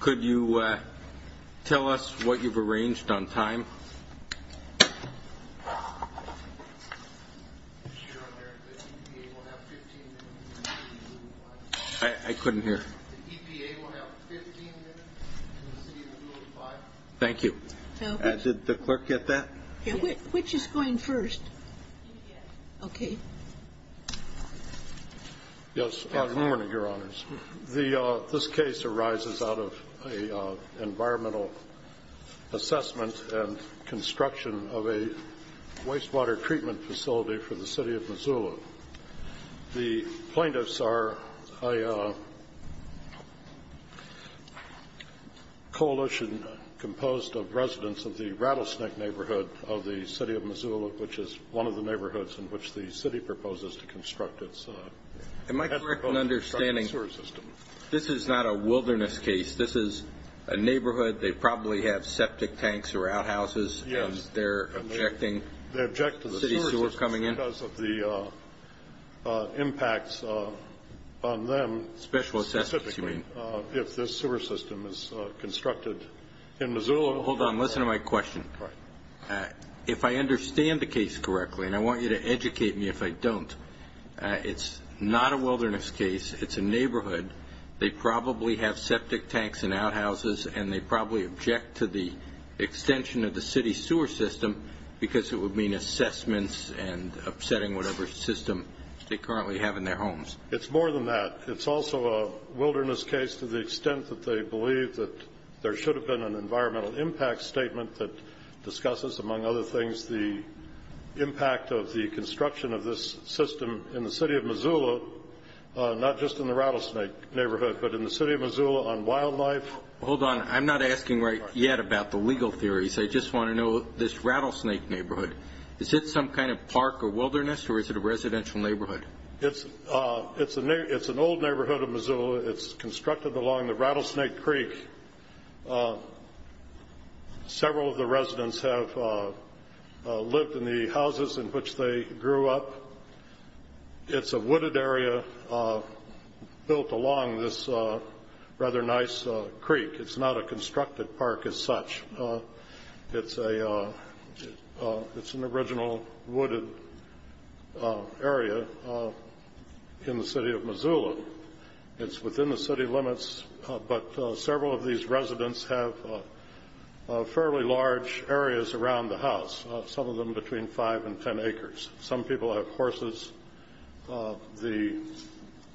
Could you tell us what you've arranged on time? I couldn't hear. Thank you. Did the clerk get that? Which is going first? Okay. Yes. Good morning, Your Honors. This case arises out of an environmental assessment and construction of a wastewater treatment facility for the City of Missoula. The plaintiffs are a coalition composed of residents of the Rattlesnake neighborhood of the City of Missoula, which is one of the neighborhoods in which the city proposes to construct its sewer system. Am I correct in understanding this is not a wilderness case? This is a neighborhood. They probably have septic tanks or outhouses. Yes. They object to the sewer system because of the impacts on them specifically if this sewer system is constructed in Missoula. Hold on. Listen to my question. If I understand the case correctly, and I want you to educate me if I don't, it's not a wilderness case. It's a neighborhood. They probably have septic tanks and outhouses, and they probably object to the extension of the city's sewer system because it would mean assessments and upsetting whatever system they currently have in their homes. It's more than that. It's also a wilderness case to the extent that they believe that there should have been an environmental impact statement that discusses, among other things, the impact of the construction of this system in the City of Missoula, not just in the Rattlesnake neighborhood, but in the City of Missoula on wildlife. Hold on. I'm not asking right yet about the legal theories. I just want to know this Rattlesnake neighborhood. Is it some kind of park or wilderness, or is it a residential neighborhood? It's an old neighborhood of Missoula. It's constructed along the Rattlesnake Creek. Several of the residents have lived in the houses in which they grew up. It's a wooded area built along this rather nice creek. It's not a constructed park as such. It's an original wooded area in the City of Missoula. It's within the city limits, but several of these residents have fairly large areas around the house, some of them between five and ten acres. Some people have horses. The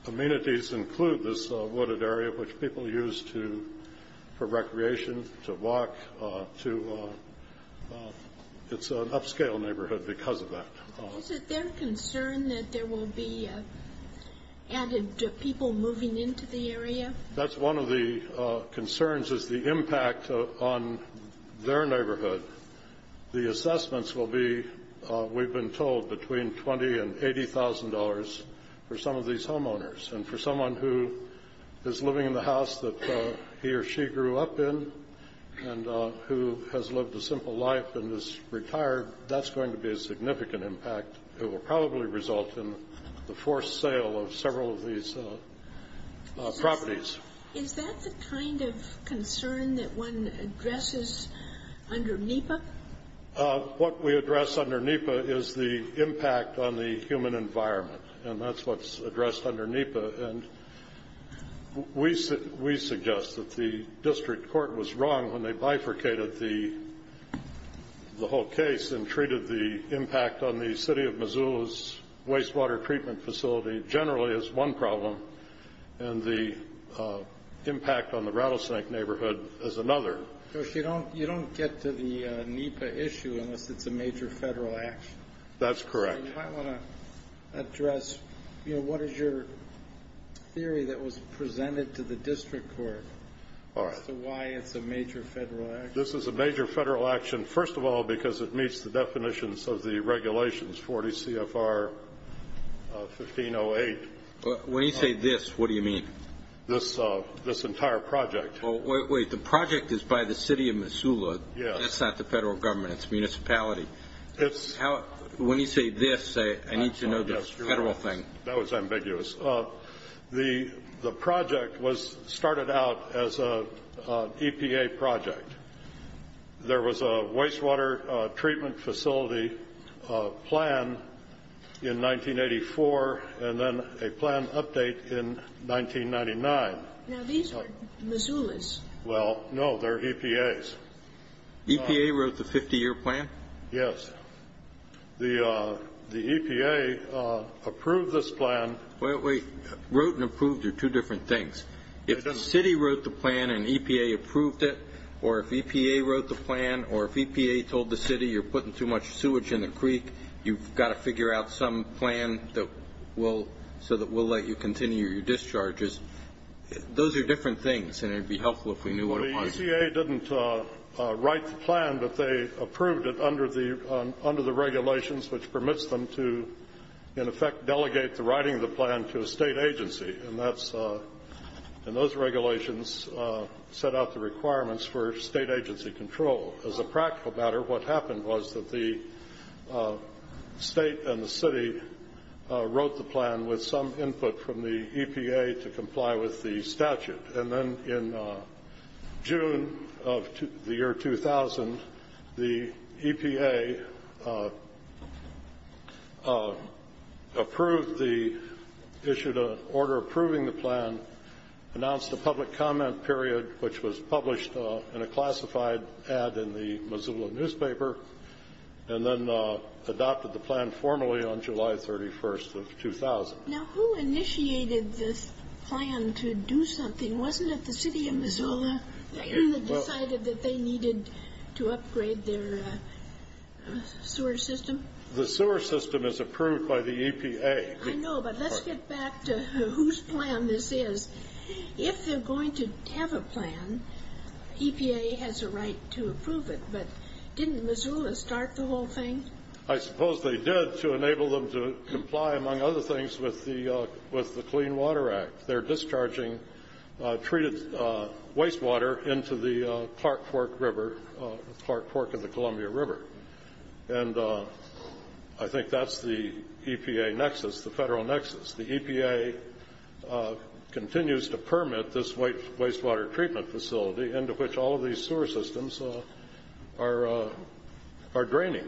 amenities include this wooded area, which people use for recreation, to walk. It's an upscale neighborhood because of that. Is it their concern that there will be added people moving into the area? That's one of the concerns, is the impact on their neighborhood. The assessments will be, we've been told, between $20,000 and $80,000 for some of these homeowners. For someone who is living in the house that he or she grew up in and who has lived a simple life and is retired, that's going to be a significant impact. It will probably result in the forced sale of several of these properties. Is that the kind of concern that one addresses under NEPA? What we address under NEPA is the impact on the human environment, and that's what's addressed under NEPA. We suggest that the district court was wrong when they bifurcated the whole case and treated the impact on the City of Missoula's wastewater treatment facility generally as one problem, and the impact on the Rattlesnake neighborhood as another. You don't get to the NEPA issue unless it's a major Federal action. That's correct. I want to address what is your theory that was presented to the district court as to why it's a major Federal action. This is a major Federal action, first of all, because it meets the definitions of the regulations, 40 CFR 1508. When you say this, what do you mean? This entire project. Wait. The project is by the City of Missoula. Yes. That's not the Federal Government. It's municipality. When you say this, I need to know this Federal thing. That was ambiguous. The project started out as an EPA project. There was a wastewater treatment facility plan in 1984 and then a plan update in 1999. Now, these are Missoula's. Well, no. They're EPA's. EPA wrote the 50-year plan? Yes. The EPA approved this plan. Wait. Wrote and approved are two different things. If the City wrote the plan and EPA approved it, or if EPA wrote the plan, or if EPA told the City, you're putting too much sewage in the creek, you've got to figure out some plan so that we'll let you continue your discharges, those are different things, and it would be helpful if we knew what it was. Well, the EPA didn't write the plan, but they approved it under the regulations, which permits them to, in effect, delegate the writing of the plan to a State agency. And those regulations set out the requirements for State agency control. As a practical matter, what happened was that the State and the City wrote the plan with some input from the EPA to comply with the statute. And then in June of the year 2000, the EPA approved the issue to order approving the plan, announced a public comment period, which was published in a classified ad in the Missoula newspaper, and then adopted the plan formally on July 31st of 2000. Now, who initiated this plan to do something? Wasn't it the City of Missoula that decided that they needed to upgrade their sewer system? The sewer system is approved by the EPA. I know, but let's get back to whose plan this is. If they're going to have a plan, EPA has a right to approve it, but didn't Missoula start the whole thing? I suppose they did to enable them to comply, among other things, with the Clean Water Act. They're discharging treated wastewater into the Clark Fork River, Clark Fork and the Columbia River. And I think that's the EPA nexus, the Federal nexus. The EPA continues to permit this wastewater treatment facility into which all of these sewer systems are draining.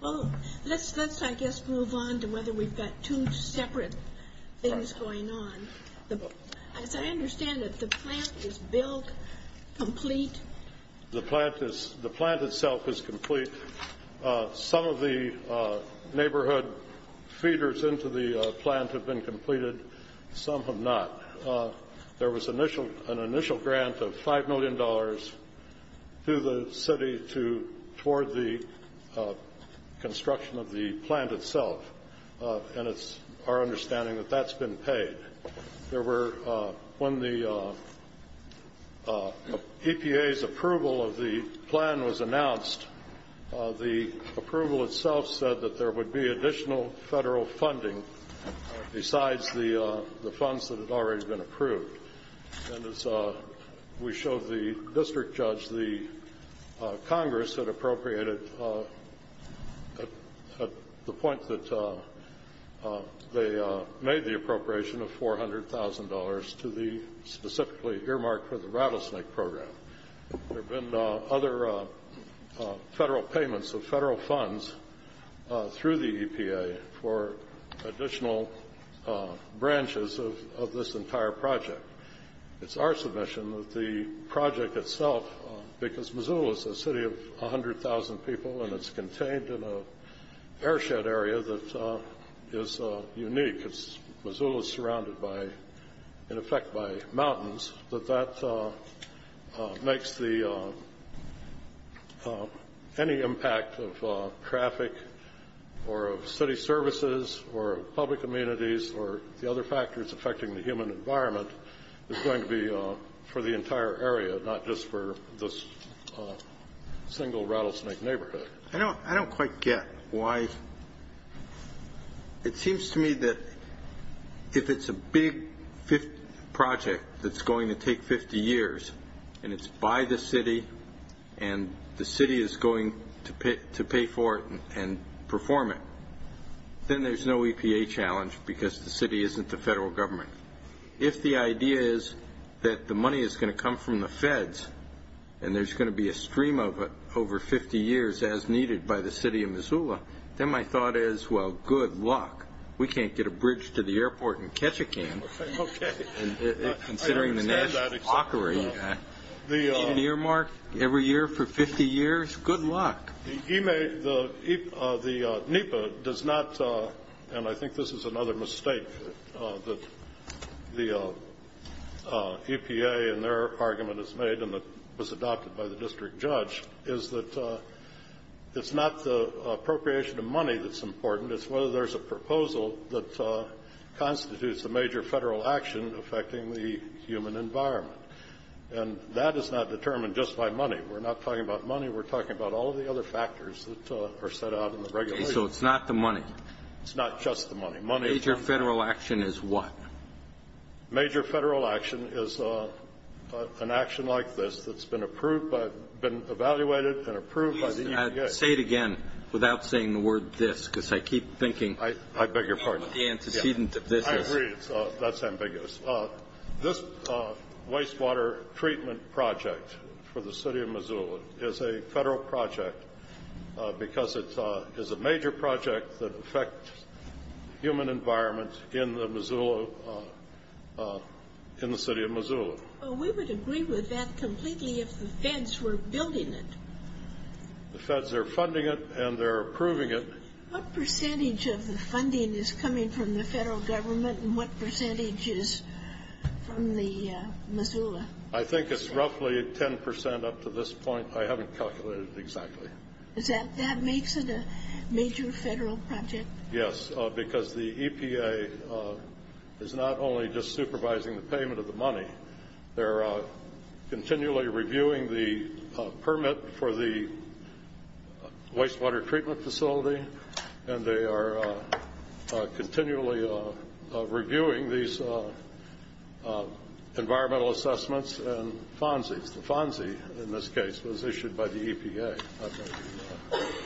Well, let's, I guess, move on to whether we've got two separate things going on. As I understand it, the plant is built complete? The plant itself is complete. Some of the neighborhood feeders into the plant have been completed. Some have not. There was an initial grant of $5 million to the city toward the construction of the plant itself, and it's our understanding that that's been paid. There were, when the EPA's approval of the plan was announced, the approval itself said that there would be additional Federal funding besides the funds that had already been approved. And as we showed the district judge, the Congress had appropriated at the point that they made the appropriation of $400,000 to the specifically earmarked for the Rattlesnake Program. There have been other Federal payments of Federal funds through the EPA for additional branches of this entire project. It's our submission that the project itself, because Missoula is a city of 100,000 people and it's contained in an airshed area that is unique, because Missoula is surrounded by, in effect, by mountains, that that makes the any impact of traffic or of city services or of public communities or the other factors affecting the human environment is going to be for the entire area, not just for this single Rattlesnake neighborhood. I don't quite get why, it seems to me that if it's a big project that's going to take 50 years and it's by the city and the city is going to pay for it and perform it, then there's no EPA challenge because the city isn't the Federal Government. If the idea is that the money is going to come from the Feds and there's going to be a stream of it over 50 years as needed by the city of Missoula, then my thought is, well, good luck. We can't get a bridge to the airport in Ketchikan. Okay. I understand that. Considering the National Hockery, the earmark every year for 50 years, good luck. The NEPA does not, and I think this is another mistake that the EPA in their argument has made and that was adopted by the district judge, is that it's not the appropriation of money that's important, it's whether there's a proposal that constitutes a major Federal action affecting the human environment. And that is not determined just by money. We're not talking about money. We're talking about all the other factors that are set out in the regulations. Okay. So it's not the money. It's not just the money. Major Federal action is what? Major Federal action is an action like this that's been approved by, been evaluated and approved by the EPA. Please say it again without saying the word this because I keep thinking of the antecedent of this. I agree. That's ambiguous. This wastewater treatment project for the city of Missoula is a Federal project because it is a major project that affects the human environment in the city of Missoula. We would agree with that completely if the Feds were building it. The Feds are funding it and they're approving it. What percentage of the funding is coming from the Federal Government and what percentage is from the Missoula? I think it's roughly 10% up to this point. I haven't calculated exactly. That makes it a major Federal project? Yes, because the EPA is not only just supervising the payment of the money. They're continually reviewing the permit for the wastewater treatment facility and they are continually reviewing these environmental assessments and FONSEs. The FONSE in this case was issued by the EPA.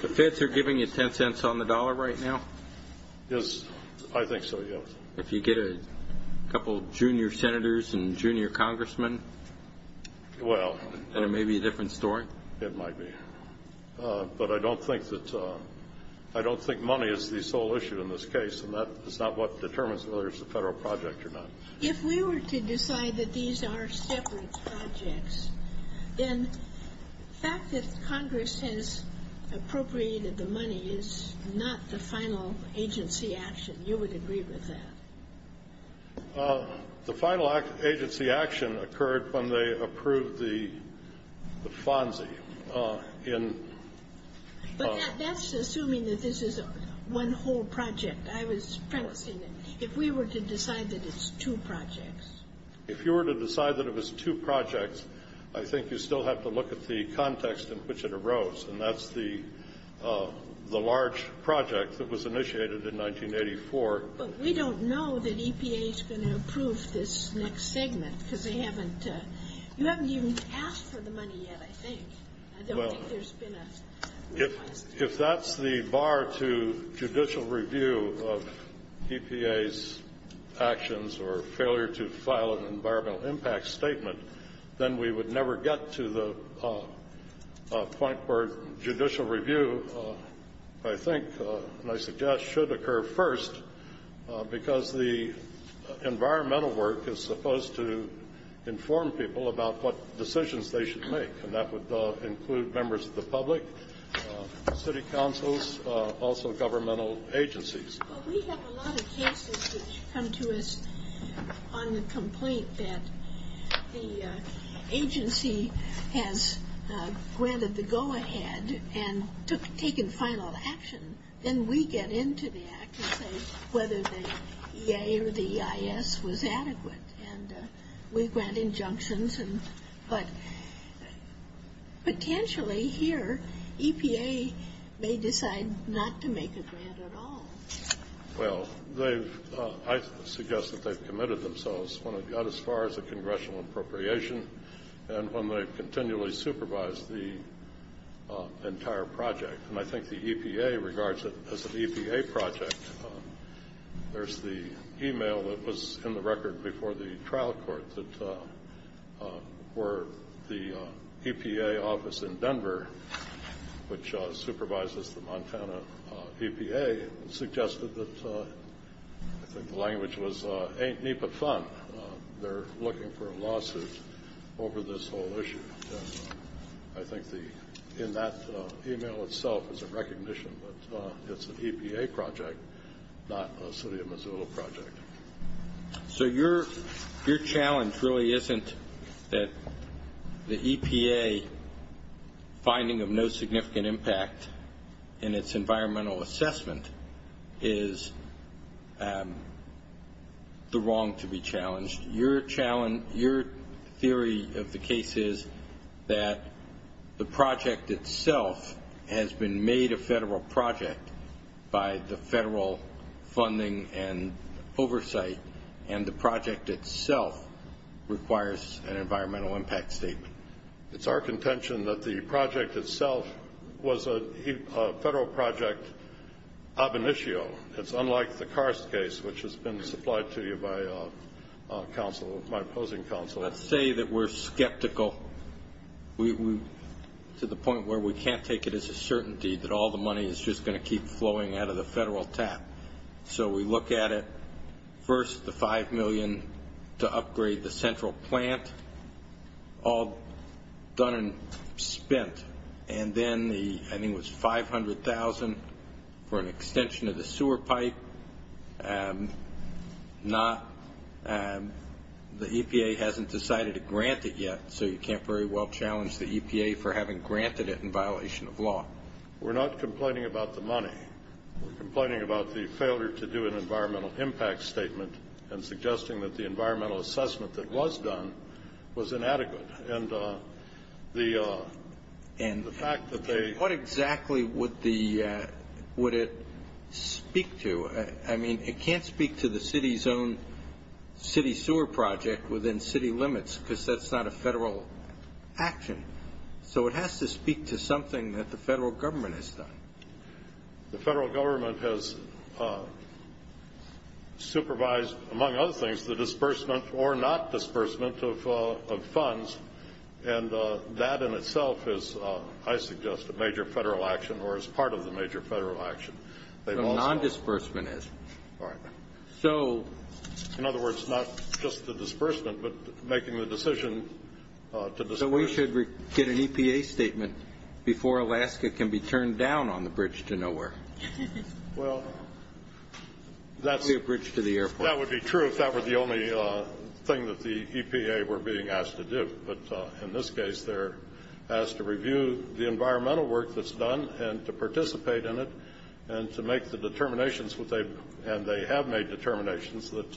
The Feds are giving you 10 cents on the dollar right now? I think so, yes. If you get a couple junior senators and junior congressmen, then it may be a different story. It might be. But I don't think money is the sole issue in this case, and that is not what determines whether it's a Federal project or not. If we were to decide that these are separate projects, then the fact that Congress has appropriated the money is not the final agency action. You would agree with that? The final agency action occurred when they approved the FONSE. But that's assuming that this is one whole project. I was practicing it. If we were to decide that it's two projects. If you were to decide that it was two projects, I think you still have to look at the context in which it arose, and that's the large project that was initiated in 1984. But we don't know that EPA is going to approve this next segment because they haven't. You haven't even asked for the money yet, I think. I don't think there's been a request. If that's the bar to judicial review of EPA's actions or failure to file an environmental impact statement, then we would never get to the point where judicial review, I think, and I suggest should occur first because the environmental work is supposed to inform people about what decisions they should make, and that would include members of the public, city councils, also governmental agencies. Well, we have a lot of cases which come to us on the complaint that the agency has granted the go-ahead and taken final action. Then we get into the act and say whether the EA or the EIS was adequate, and we grant injunctions. But potentially here EPA may decide not to make a grant at all. Well, I suggest that they've committed themselves when it got as far as the congressional appropriation and when they've continually supervised the entire project. And I think the EPA regards it as an EPA project. There's the e-mail that was in the record before the trial court that the EPA office in Denver, which supervises the Montana EPA, suggested that, I think the language was, ain't NEPA fun, they're looking for a lawsuit over this whole issue. I think in that e-mail itself is a recognition that it's an EPA project, not a city of Missoula project. So your challenge really isn't that the EPA finding of no significant impact in its environmental assessment is the wrong to be challenged. Your theory of the case is that the project itself has been made a federal project by the federal funding and oversight, and the project itself requires an environmental impact statement. It's our contention that the project itself was a federal project ab initio. It's unlike the Karst case, which has been supplied to you by my opposing counsel. Let's say that we're skeptical to the point where we can't take it as a certainty that all the money is just going to keep flowing out of the federal tap. So we look at it, first the $5 million to upgrade the central plant, all done and spent, and then I think it was $500,000 for an extension of the sewer pipe. The EPA hasn't decided to grant it yet, so you can't very well challenge the EPA for having granted it in violation of law. We're not complaining about the money. We're complaining about the failure to do an environmental impact statement and suggesting that the environmental assessment that was done was inadequate. What exactly would it speak to? I mean, it can't speak to the city's own city sewer project within city limits because that's not a federal action. So it has to speak to something that the federal government has done. The federal government has supervised, among other things, the disbursement or not disbursement of funds, and that in itself is, I suggest, a major federal action or is part of the major federal action. What a nondisbursement is. All right. So. In other words, not just the disbursement, but making the decision to disburse. So we should get an EPA statement before Alaska can be turned down on the bridge to nowhere. Well, that's. The bridge to the airport. That would be true if that were the only thing that the EPA were being asked to do. But in this case, they're asked to review the environmental work that's done and to participate in it and to make the determinations, and they have made determinations that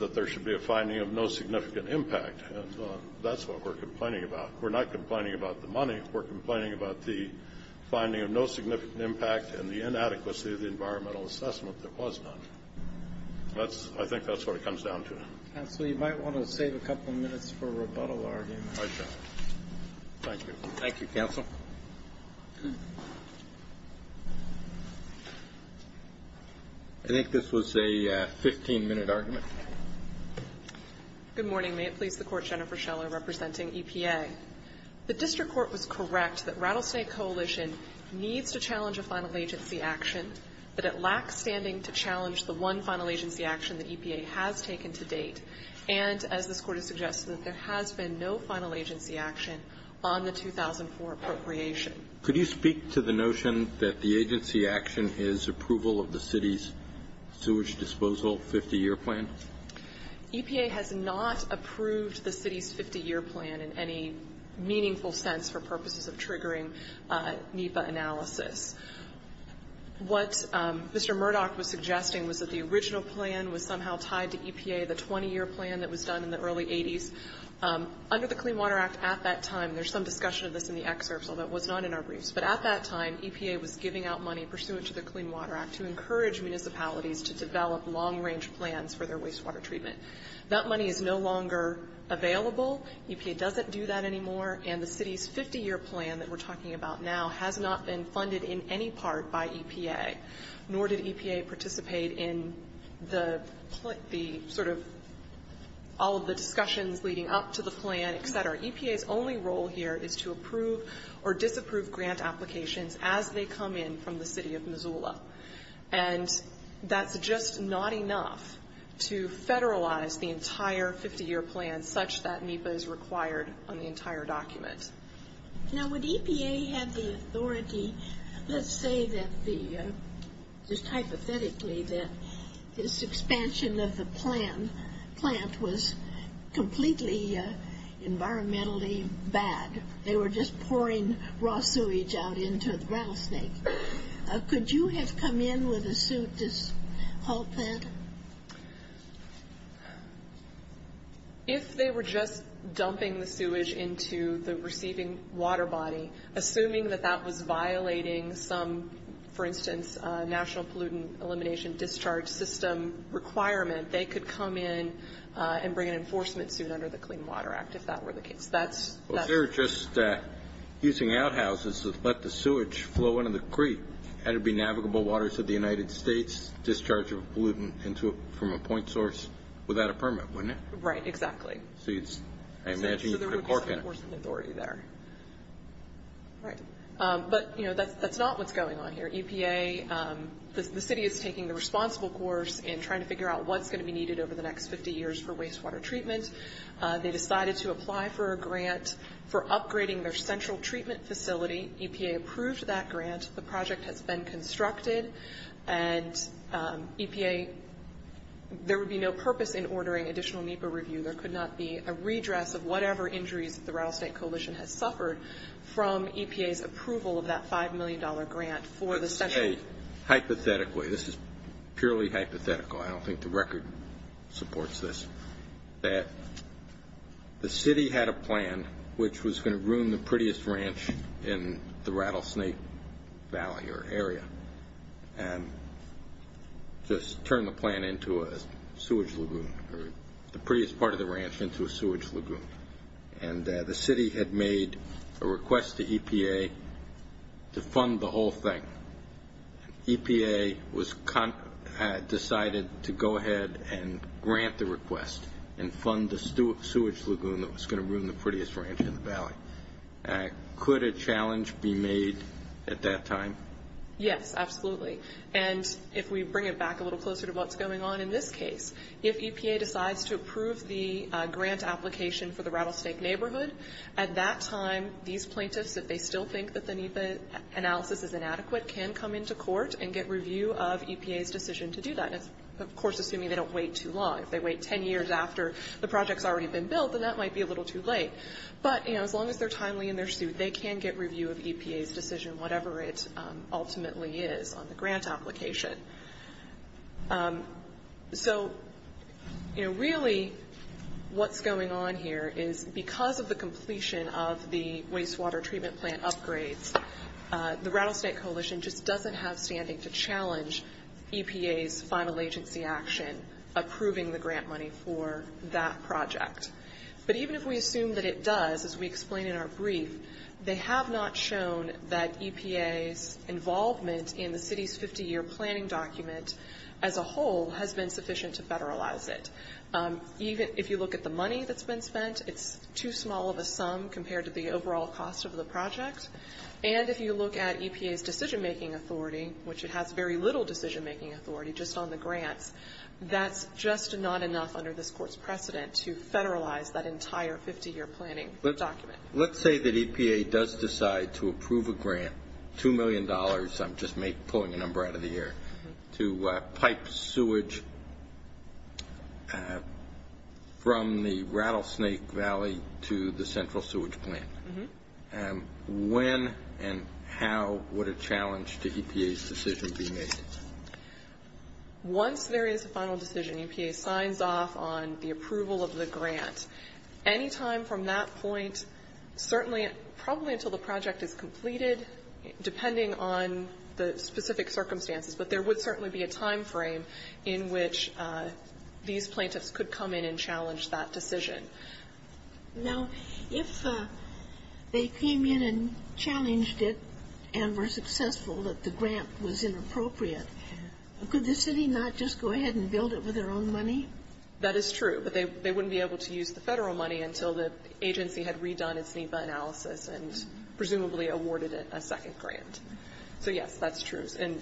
there should be a finding of no significant impact. And that's what we're complaining about. We're not complaining about the money. We're complaining about the finding of no significant impact and the inadequacy of the environmental assessment that was done. I think that's what it comes down to. Counsel, you might want to save a couple of minutes for a rebuttal argument. I shall. Thank you. Thank you, counsel. I think this was a 15-minute argument. Good morning. May it please the Court, Jennifer Scheller representing EPA. The district court was correct that Rattlesnake Coalition needs to challenge a final agency action, but it lacks standing to challenge the one final agency action that EPA has taken to date. And as this Court has suggested, there has been no final agency action on the 2004 appropriation. Could you speak to the notion that the agency action is approval of the city's sewage disposal 50-year plan? EPA has not approved the city's 50-year plan in any meaningful sense for purposes of triggering NEPA analysis. What Mr. Murdoch was suggesting was that the original plan was somehow tied to EPA, the 20-year plan that was done in the early 80s. Under the Clean Water Act at that time, there's some discussion of this in the excerpts, although it was not in our briefs, but at that time EPA was giving out money pursuant to the Clean Water Act to encourage municipalities to develop long-range plans for their wastewater treatment. That money is no longer available. EPA doesn't do that anymore, and the city's 50-year plan that we're talking about now has not been funded in any part by EPA, nor did EPA participate in the sort of all of the discussions leading up to the plan, et cetera. EPA's only role here is to approve or disapprove grant applications as they come in from the city of Missoula, and that's just not enough to federalize the entire 50-year plan such that NEPA is required on the entire document. Now, would EPA have the authority? Let's say just hypothetically that this expansion of the plant was completely environmentally bad. They were just pouring raw sewage out into the rattlesnake. Could you have come in with a suit to halt that? If they were just dumping the sewage into the receiving water body, assuming that that was violating some, for instance, national pollutant elimination discharge system requirement, they could come in and bring an enforcement suit under the Clean Water Act if that were the case. Well, they were just using outhouses to let the sewage flow into the creek. Had it been navigable waters of the United States, discharge of pollutant from a point source without a permit, wouldn't it? Right, exactly. So I imagine you could have worked in it. So there would be some enforcement authority there. But that's not what's going on here. EPA, the city is taking the responsible course in trying to figure out what's going to be needed over the next 50 years for wastewater treatment. They decided to apply for a grant for upgrading their central treatment facility. EPA approved that grant. The project has been constructed. And EPA, there would be no purpose in ordering additional NEPA review. There could not be a redress of whatever injuries the Rattlesnake Coalition has suffered from EPA's approval of that $5 million grant for the central. Hey, hypothetically, this is purely hypothetical, I don't think the record supports this, that the city had a plan which was going to ruin the prettiest ranch in the Rattlesnake Valley or area and just turn the plan into a sewage lagoon or the prettiest part of the ranch into a sewage lagoon. And the city had made a request to EPA to fund the whole thing. EPA decided to go ahead and grant the request and fund the sewage lagoon that was going to ruin the prettiest ranch in the valley. Could a challenge be made at that time? Yes, absolutely. And if we bring it back a little closer to what's going on in this case, if EPA decides to approve the grant application for the Rattlesnake neighborhood, at that time, these plaintiffs, if they still think that the NEPA analysis is inadequate, can come into court and get review of EPA's decision to do that. Of course, assuming they don't wait too long. If they wait 10 years after the project's already been built, then that might be a little too late. But, you know, as long as they're timely in their suit, they can get review of EPA's decision, whatever it ultimately is on the grant application. So, you know, really what's going on here is because of the completion of the wastewater treatment plant upgrades, the Rattlesnake Coalition just doesn't have standing to challenge EPA's final agency action, approving the grant money for that project. But even if we assume that it does, as we explain in our brief, they have not shown that EPA's involvement in the city's 50-year planning document as a whole has been sufficient to federalize it. Even if you look at the money that's been spent, it's too small of a sum compared to the overall cost of the project. And if you look at EPA's decision-making authority, which it has very little decision-making authority, just on the grants, that's just not enough under this Court's precedent to federalize that entire 50-year planning document. Let's say that EPA does decide to approve a grant, $2 million, I'm just pulling a number out of the air, to pipe sewage from the Rattlesnake Valley to the central sewage plant. When and how would a challenge to EPA's decision be made? Once there is a final decision, EPA signs off on the approval of the grant. Any time from that point, certainly, probably until the project is completed, depending on the specific circumstances, but there would certainly be a time frame in which these plaintiffs could come in and challenge that decision. Now, if they came in and challenged it and were successful, that the grant was inappropriate, could the city not just go ahead and build it with their own money? That is true. But they wouldn't be able to use the Federal money until the agency had redone its NEPA analysis and presumably awarded it a second grant. So, yes, that's true. And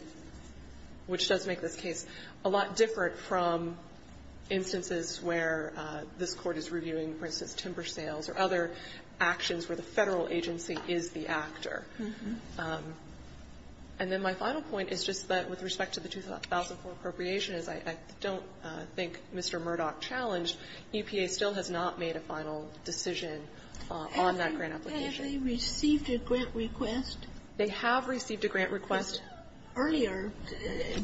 which does make this case a lot different from instances where this Court is reviewing, for instance, timber sales or other actions where the Federal agency is the actor. And then my final point is just that with respect to the 2004 appropriation as I don't think Mr. Murdoch challenged, EPA still has not made a final decision on that grant application. Have they received a grant request? They have received a grant request. Earlier,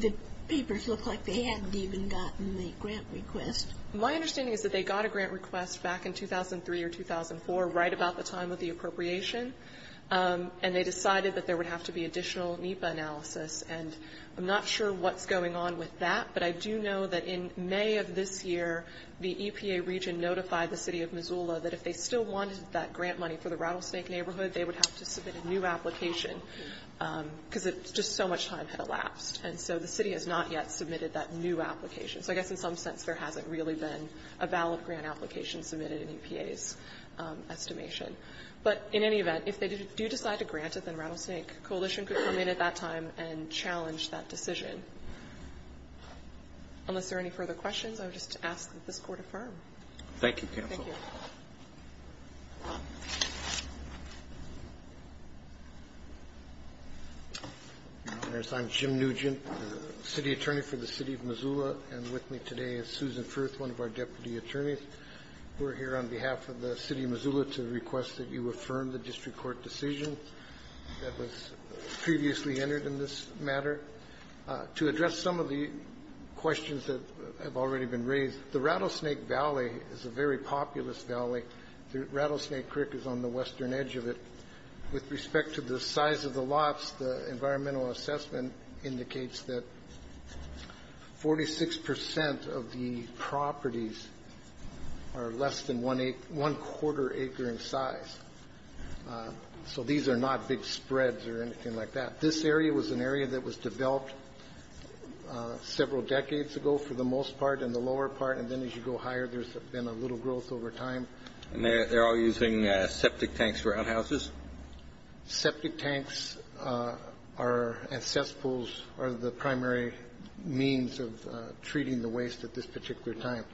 the papers looked like they hadn't even gotten the grant request. My understanding is that they got a grant request back in 2003 or 2004, right about the time of the appropriation, and they decided that there would have to be additional NEPA analysis. And I'm not sure what's going on with that, but I do know that in May of this year, the EPA region notified the City of Missoula that if they still wanted that grant money for the Rattlesnake neighborhood, they would have to submit a new application because just so much time had elapsed. And so the City has not yet submitted that new application. So I guess in some sense there hasn't really been a valid grant application submitted in EPA's estimation. But in any event, if they do decide to grant it, then Rattlesnake Coalition could come in at that time and challenge that decision. Unless there are any further questions, I would just ask that this Court affirm. Roberts. Thank you, counsel. Thank you. I'm Jim Nugent, City Attorney for the City of Missoula. And with me today is Susan Firth, one of our deputy attorneys. We're here on behalf of the City of Missoula to request that you affirm the district court decision that was previously entered in this matter. To address some of the questions that have already been raised, the Rattlesnake Valley is a very populous valley. The Rattlesnake Creek is on the western edge of it. With respect to the size of the lots, the environmental assessment indicates that 46 percent of the properties are less than one quarter acre in size. So these are not big spreads or anything like that. This area was an area that was developed several decades ago for the most part and the lower part. And then as you go higher, there's been a little growth over time. And they're all using septic tanks for outhouses? Septic tanks are the primary means of treating the waste at this particular time.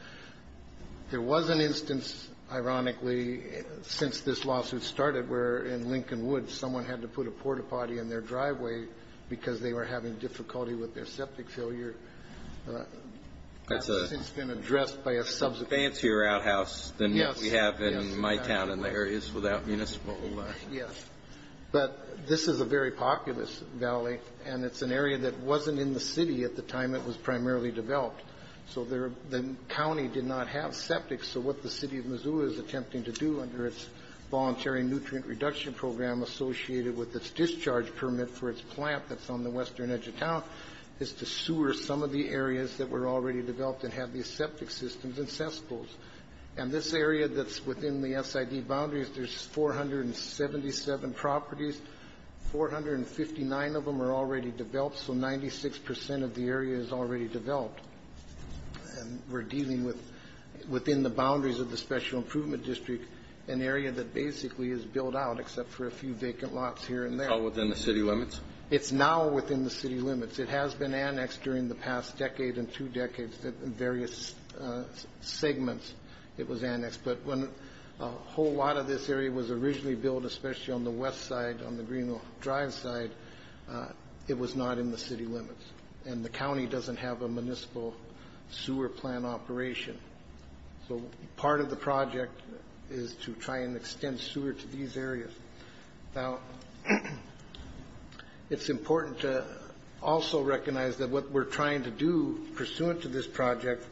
There was an instance, ironically, since this lawsuit started where in Lincoln Woods someone had to put a port-a-potty in their driveway because they were having difficulty with their septic failure. It's been addressed by a subsequent court. It's a fancier outhouse than what we have in my town and the areas without municipal septic. Yes. But this is a very populous valley. And it's an area that wasn't in the city at the time it was primarily developed. So the county did not have septic. So what the city of Missoula is attempting to do under its voluntary nutrient reduction program associated with its discharge permit for its plant that's on the western edge of town is to sewer some of the areas that were already developed and have these septic systems and cesspools. And this area that's within the SID boundaries, there's 477 properties. 459 of them are already developed. So 96 percent of the area is already developed. And we're dealing with within the boundaries of the Special Improvement District, an area that basically is built out except for a few vacant lots here and there. It's all within the city limits? It's now within the city limits. It has been annexed during the past decade and two decades in various segments. It was annexed. But when a whole lot of this area was originally built, especially on the west side, on the Greenville Drive side, it was not in the city limits. And the county doesn't have a municipal sewer plant operation. So part of the project is to try and extend sewer to these areas. Now, it's important to also recognize that what we're trying to do pursuant to this project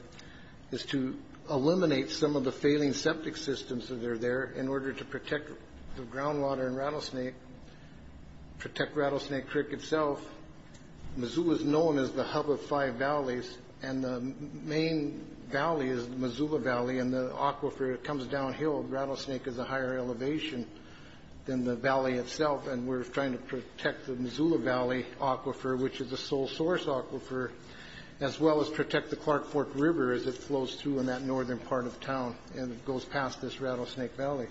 is to eliminate some of the failing septic systems that are there in order to protect the groundwater in Rattlesnake, protect Rattlesnake Creek itself. Missoula is known as the hub of five valleys, and the main valley is the Missoula Valley, and the aquifer comes downhill. Rattlesnake is a higher elevation than the valley itself, and we're trying to protect the Missoula Valley aquifer, which is the sole source aquifer, as well as protect the Clark Fork River as it flows through in that northern part of town and goes past this Rattlesnake Valley.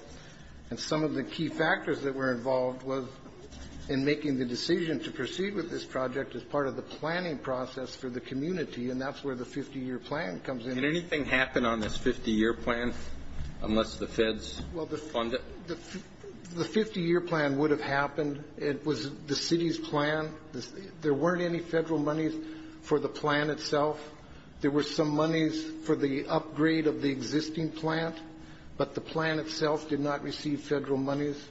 And some of the key factors that were involved was in making the decision to proceed with this project as part of the planning process for the community, and that's where the 50-year plan comes in. Can anything happen on this 50-year plan unless the feds fund it? The 50-year plan would have happened. It was the city's plan. There weren't any federal monies for the plan itself. There were some monies for the upgrade of the existing plant, but the plan itself did not receive federal monies.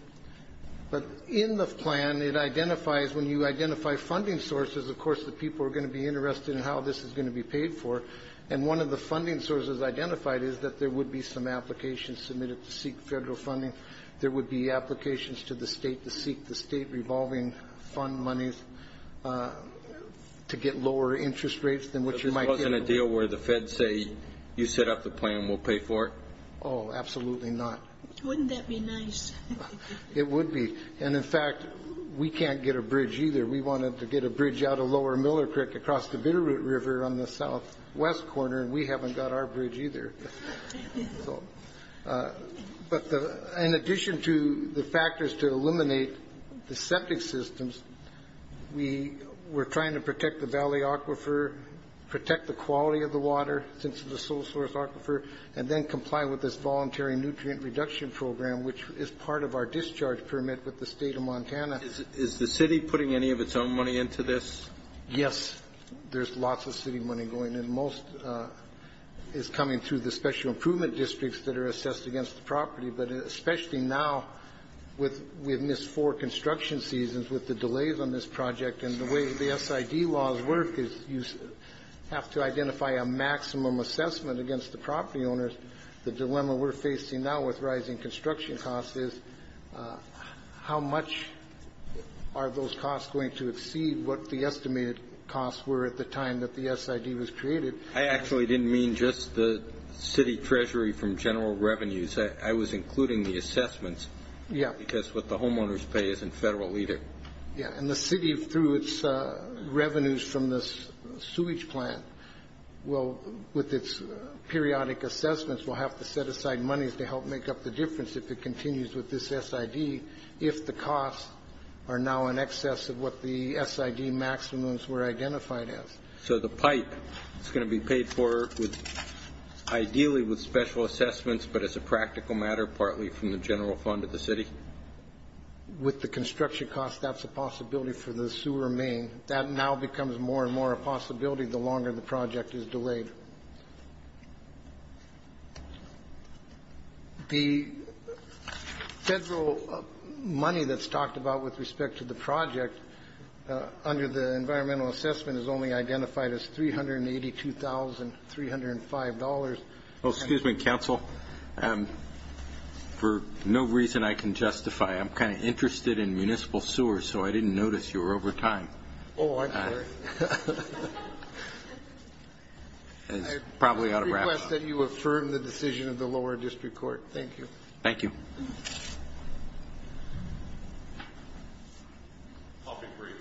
But in the plan, it identifies, when you identify funding sources, of course, the people are going to be interested in how this is going to be paid for, and one of the funding sources identified is that there would be some applications submitted to seek federal funding. There would be applications to the state to seek the state revolving fund monies to get lower interest rates. This wasn't a deal where the feds say, you set up the plan, we'll pay for it? Oh, absolutely not. Wouldn't that be nice? It would be. And, in fact, we can't get a bridge either. We wanted to get a bridge out of lower Millard Creek across the Bitterroot River on the southwest corner, and we haven't got our bridge either. But in addition to the factors to eliminate the septic systems, we're trying to protect the valley aquifer, protect the quality of the water since it's a sole source aquifer, and then comply with this voluntary nutrient reduction program, which is part of our discharge permit with the state of Montana. Is the city putting any of its own money into this? Yes. There's lots of city money going in. Most is coming through the special improvement districts that are assessed against the property, but especially now with we have missed four construction seasons with the delays on this project and the way the SID laws work is you have to identify a maximum assessment against the property owners. The dilemma we're facing now with rising construction costs is how much are those costs going to exceed what the estimated costs were at the time that the SID was created? I actually didn't mean just the city treasury from general revenues. I was including the assessments because what the homeowners pay isn't federal either. Yes, and the city, through its revenues from the sewage plant, with its periodic assessments will have to set aside monies to help make up the difference if it continues with this SID if the costs are now in excess of what the SID maximums were identified as. So the pipe is going to be paid for ideally with special assessments, but as a practical matter partly from the general fund of the city? With the construction costs, that's a possibility for the sewer main. That now becomes more and more a possibility the longer the project is delayed. The federal money that's talked about with respect to the project under the environmental assessment is only identified as $382,305. Excuse me, counsel. For no reason I can justify, I'm kind of interested in municipal sewers, so I didn't notice you were over time. Oh, I'm sorry. It's probably out of wrap. I request that you affirm the decision of the lower district court. Thank you. I'll be brief,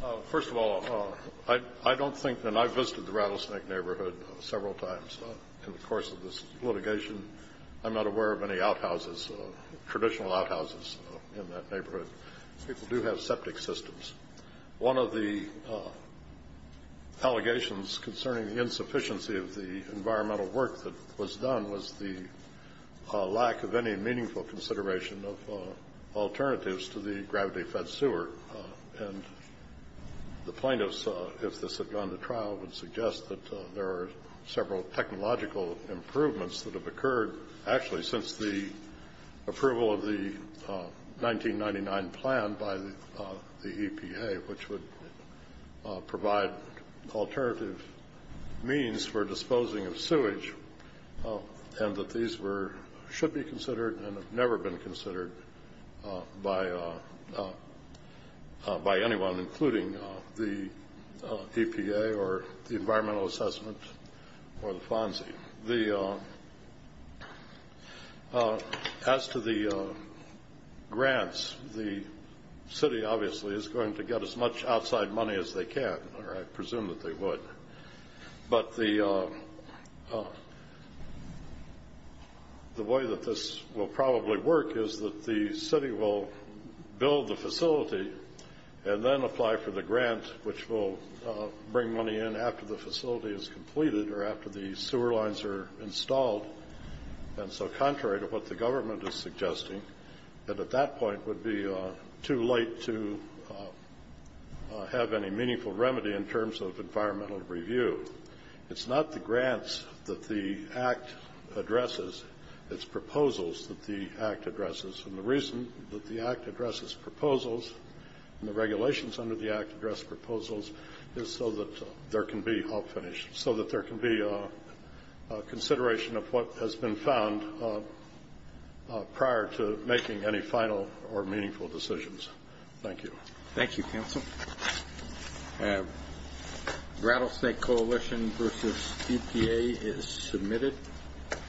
Your Honor. First of all, I don't think, and I've visited the Rattlesnake neighborhood several times in the course of this litigation. I'm not aware of any outhouses, traditional outhouses in that neighborhood. People do have septic systems. One of the allegations concerning the insufficiency of the environmental work that was done was the lack of any meaningful consideration of alternatives to the gravity-fed sewer. And the plaintiffs, if this had gone to trial, would suggest that there are several technological improvements that have occurred, actually since the approval of the 1999 plan by the EPA, which would provide alternative means for disposing of sewage, and that these should be considered and have never been considered by anyone, including the EPA or the Environmental Assessment or the FONSI. As to the grants, the city obviously is going to get as much outside money as they can, or I presume that they would. But the way that this will probably work is that the city will build the facility and then apply for the grant, which will bring money in after the facility is completed or after the sewer lines are installed. And so contrary to what the government is suggesting, that at that point would be too late to have any meaningful remedy in terms of environmental review. It's not the grants that the Act addresses. It's proposals that the Act addresses. And the reason that the Act addresses proposals and the regulations under the Act address proposals is so that there can be I'll finish. So that there can be consideration of what has been found prior to making any final or meaningful decisions. Thank you. Thank you, Counsel. Rattlesnake Coalition versus EPA is submitted.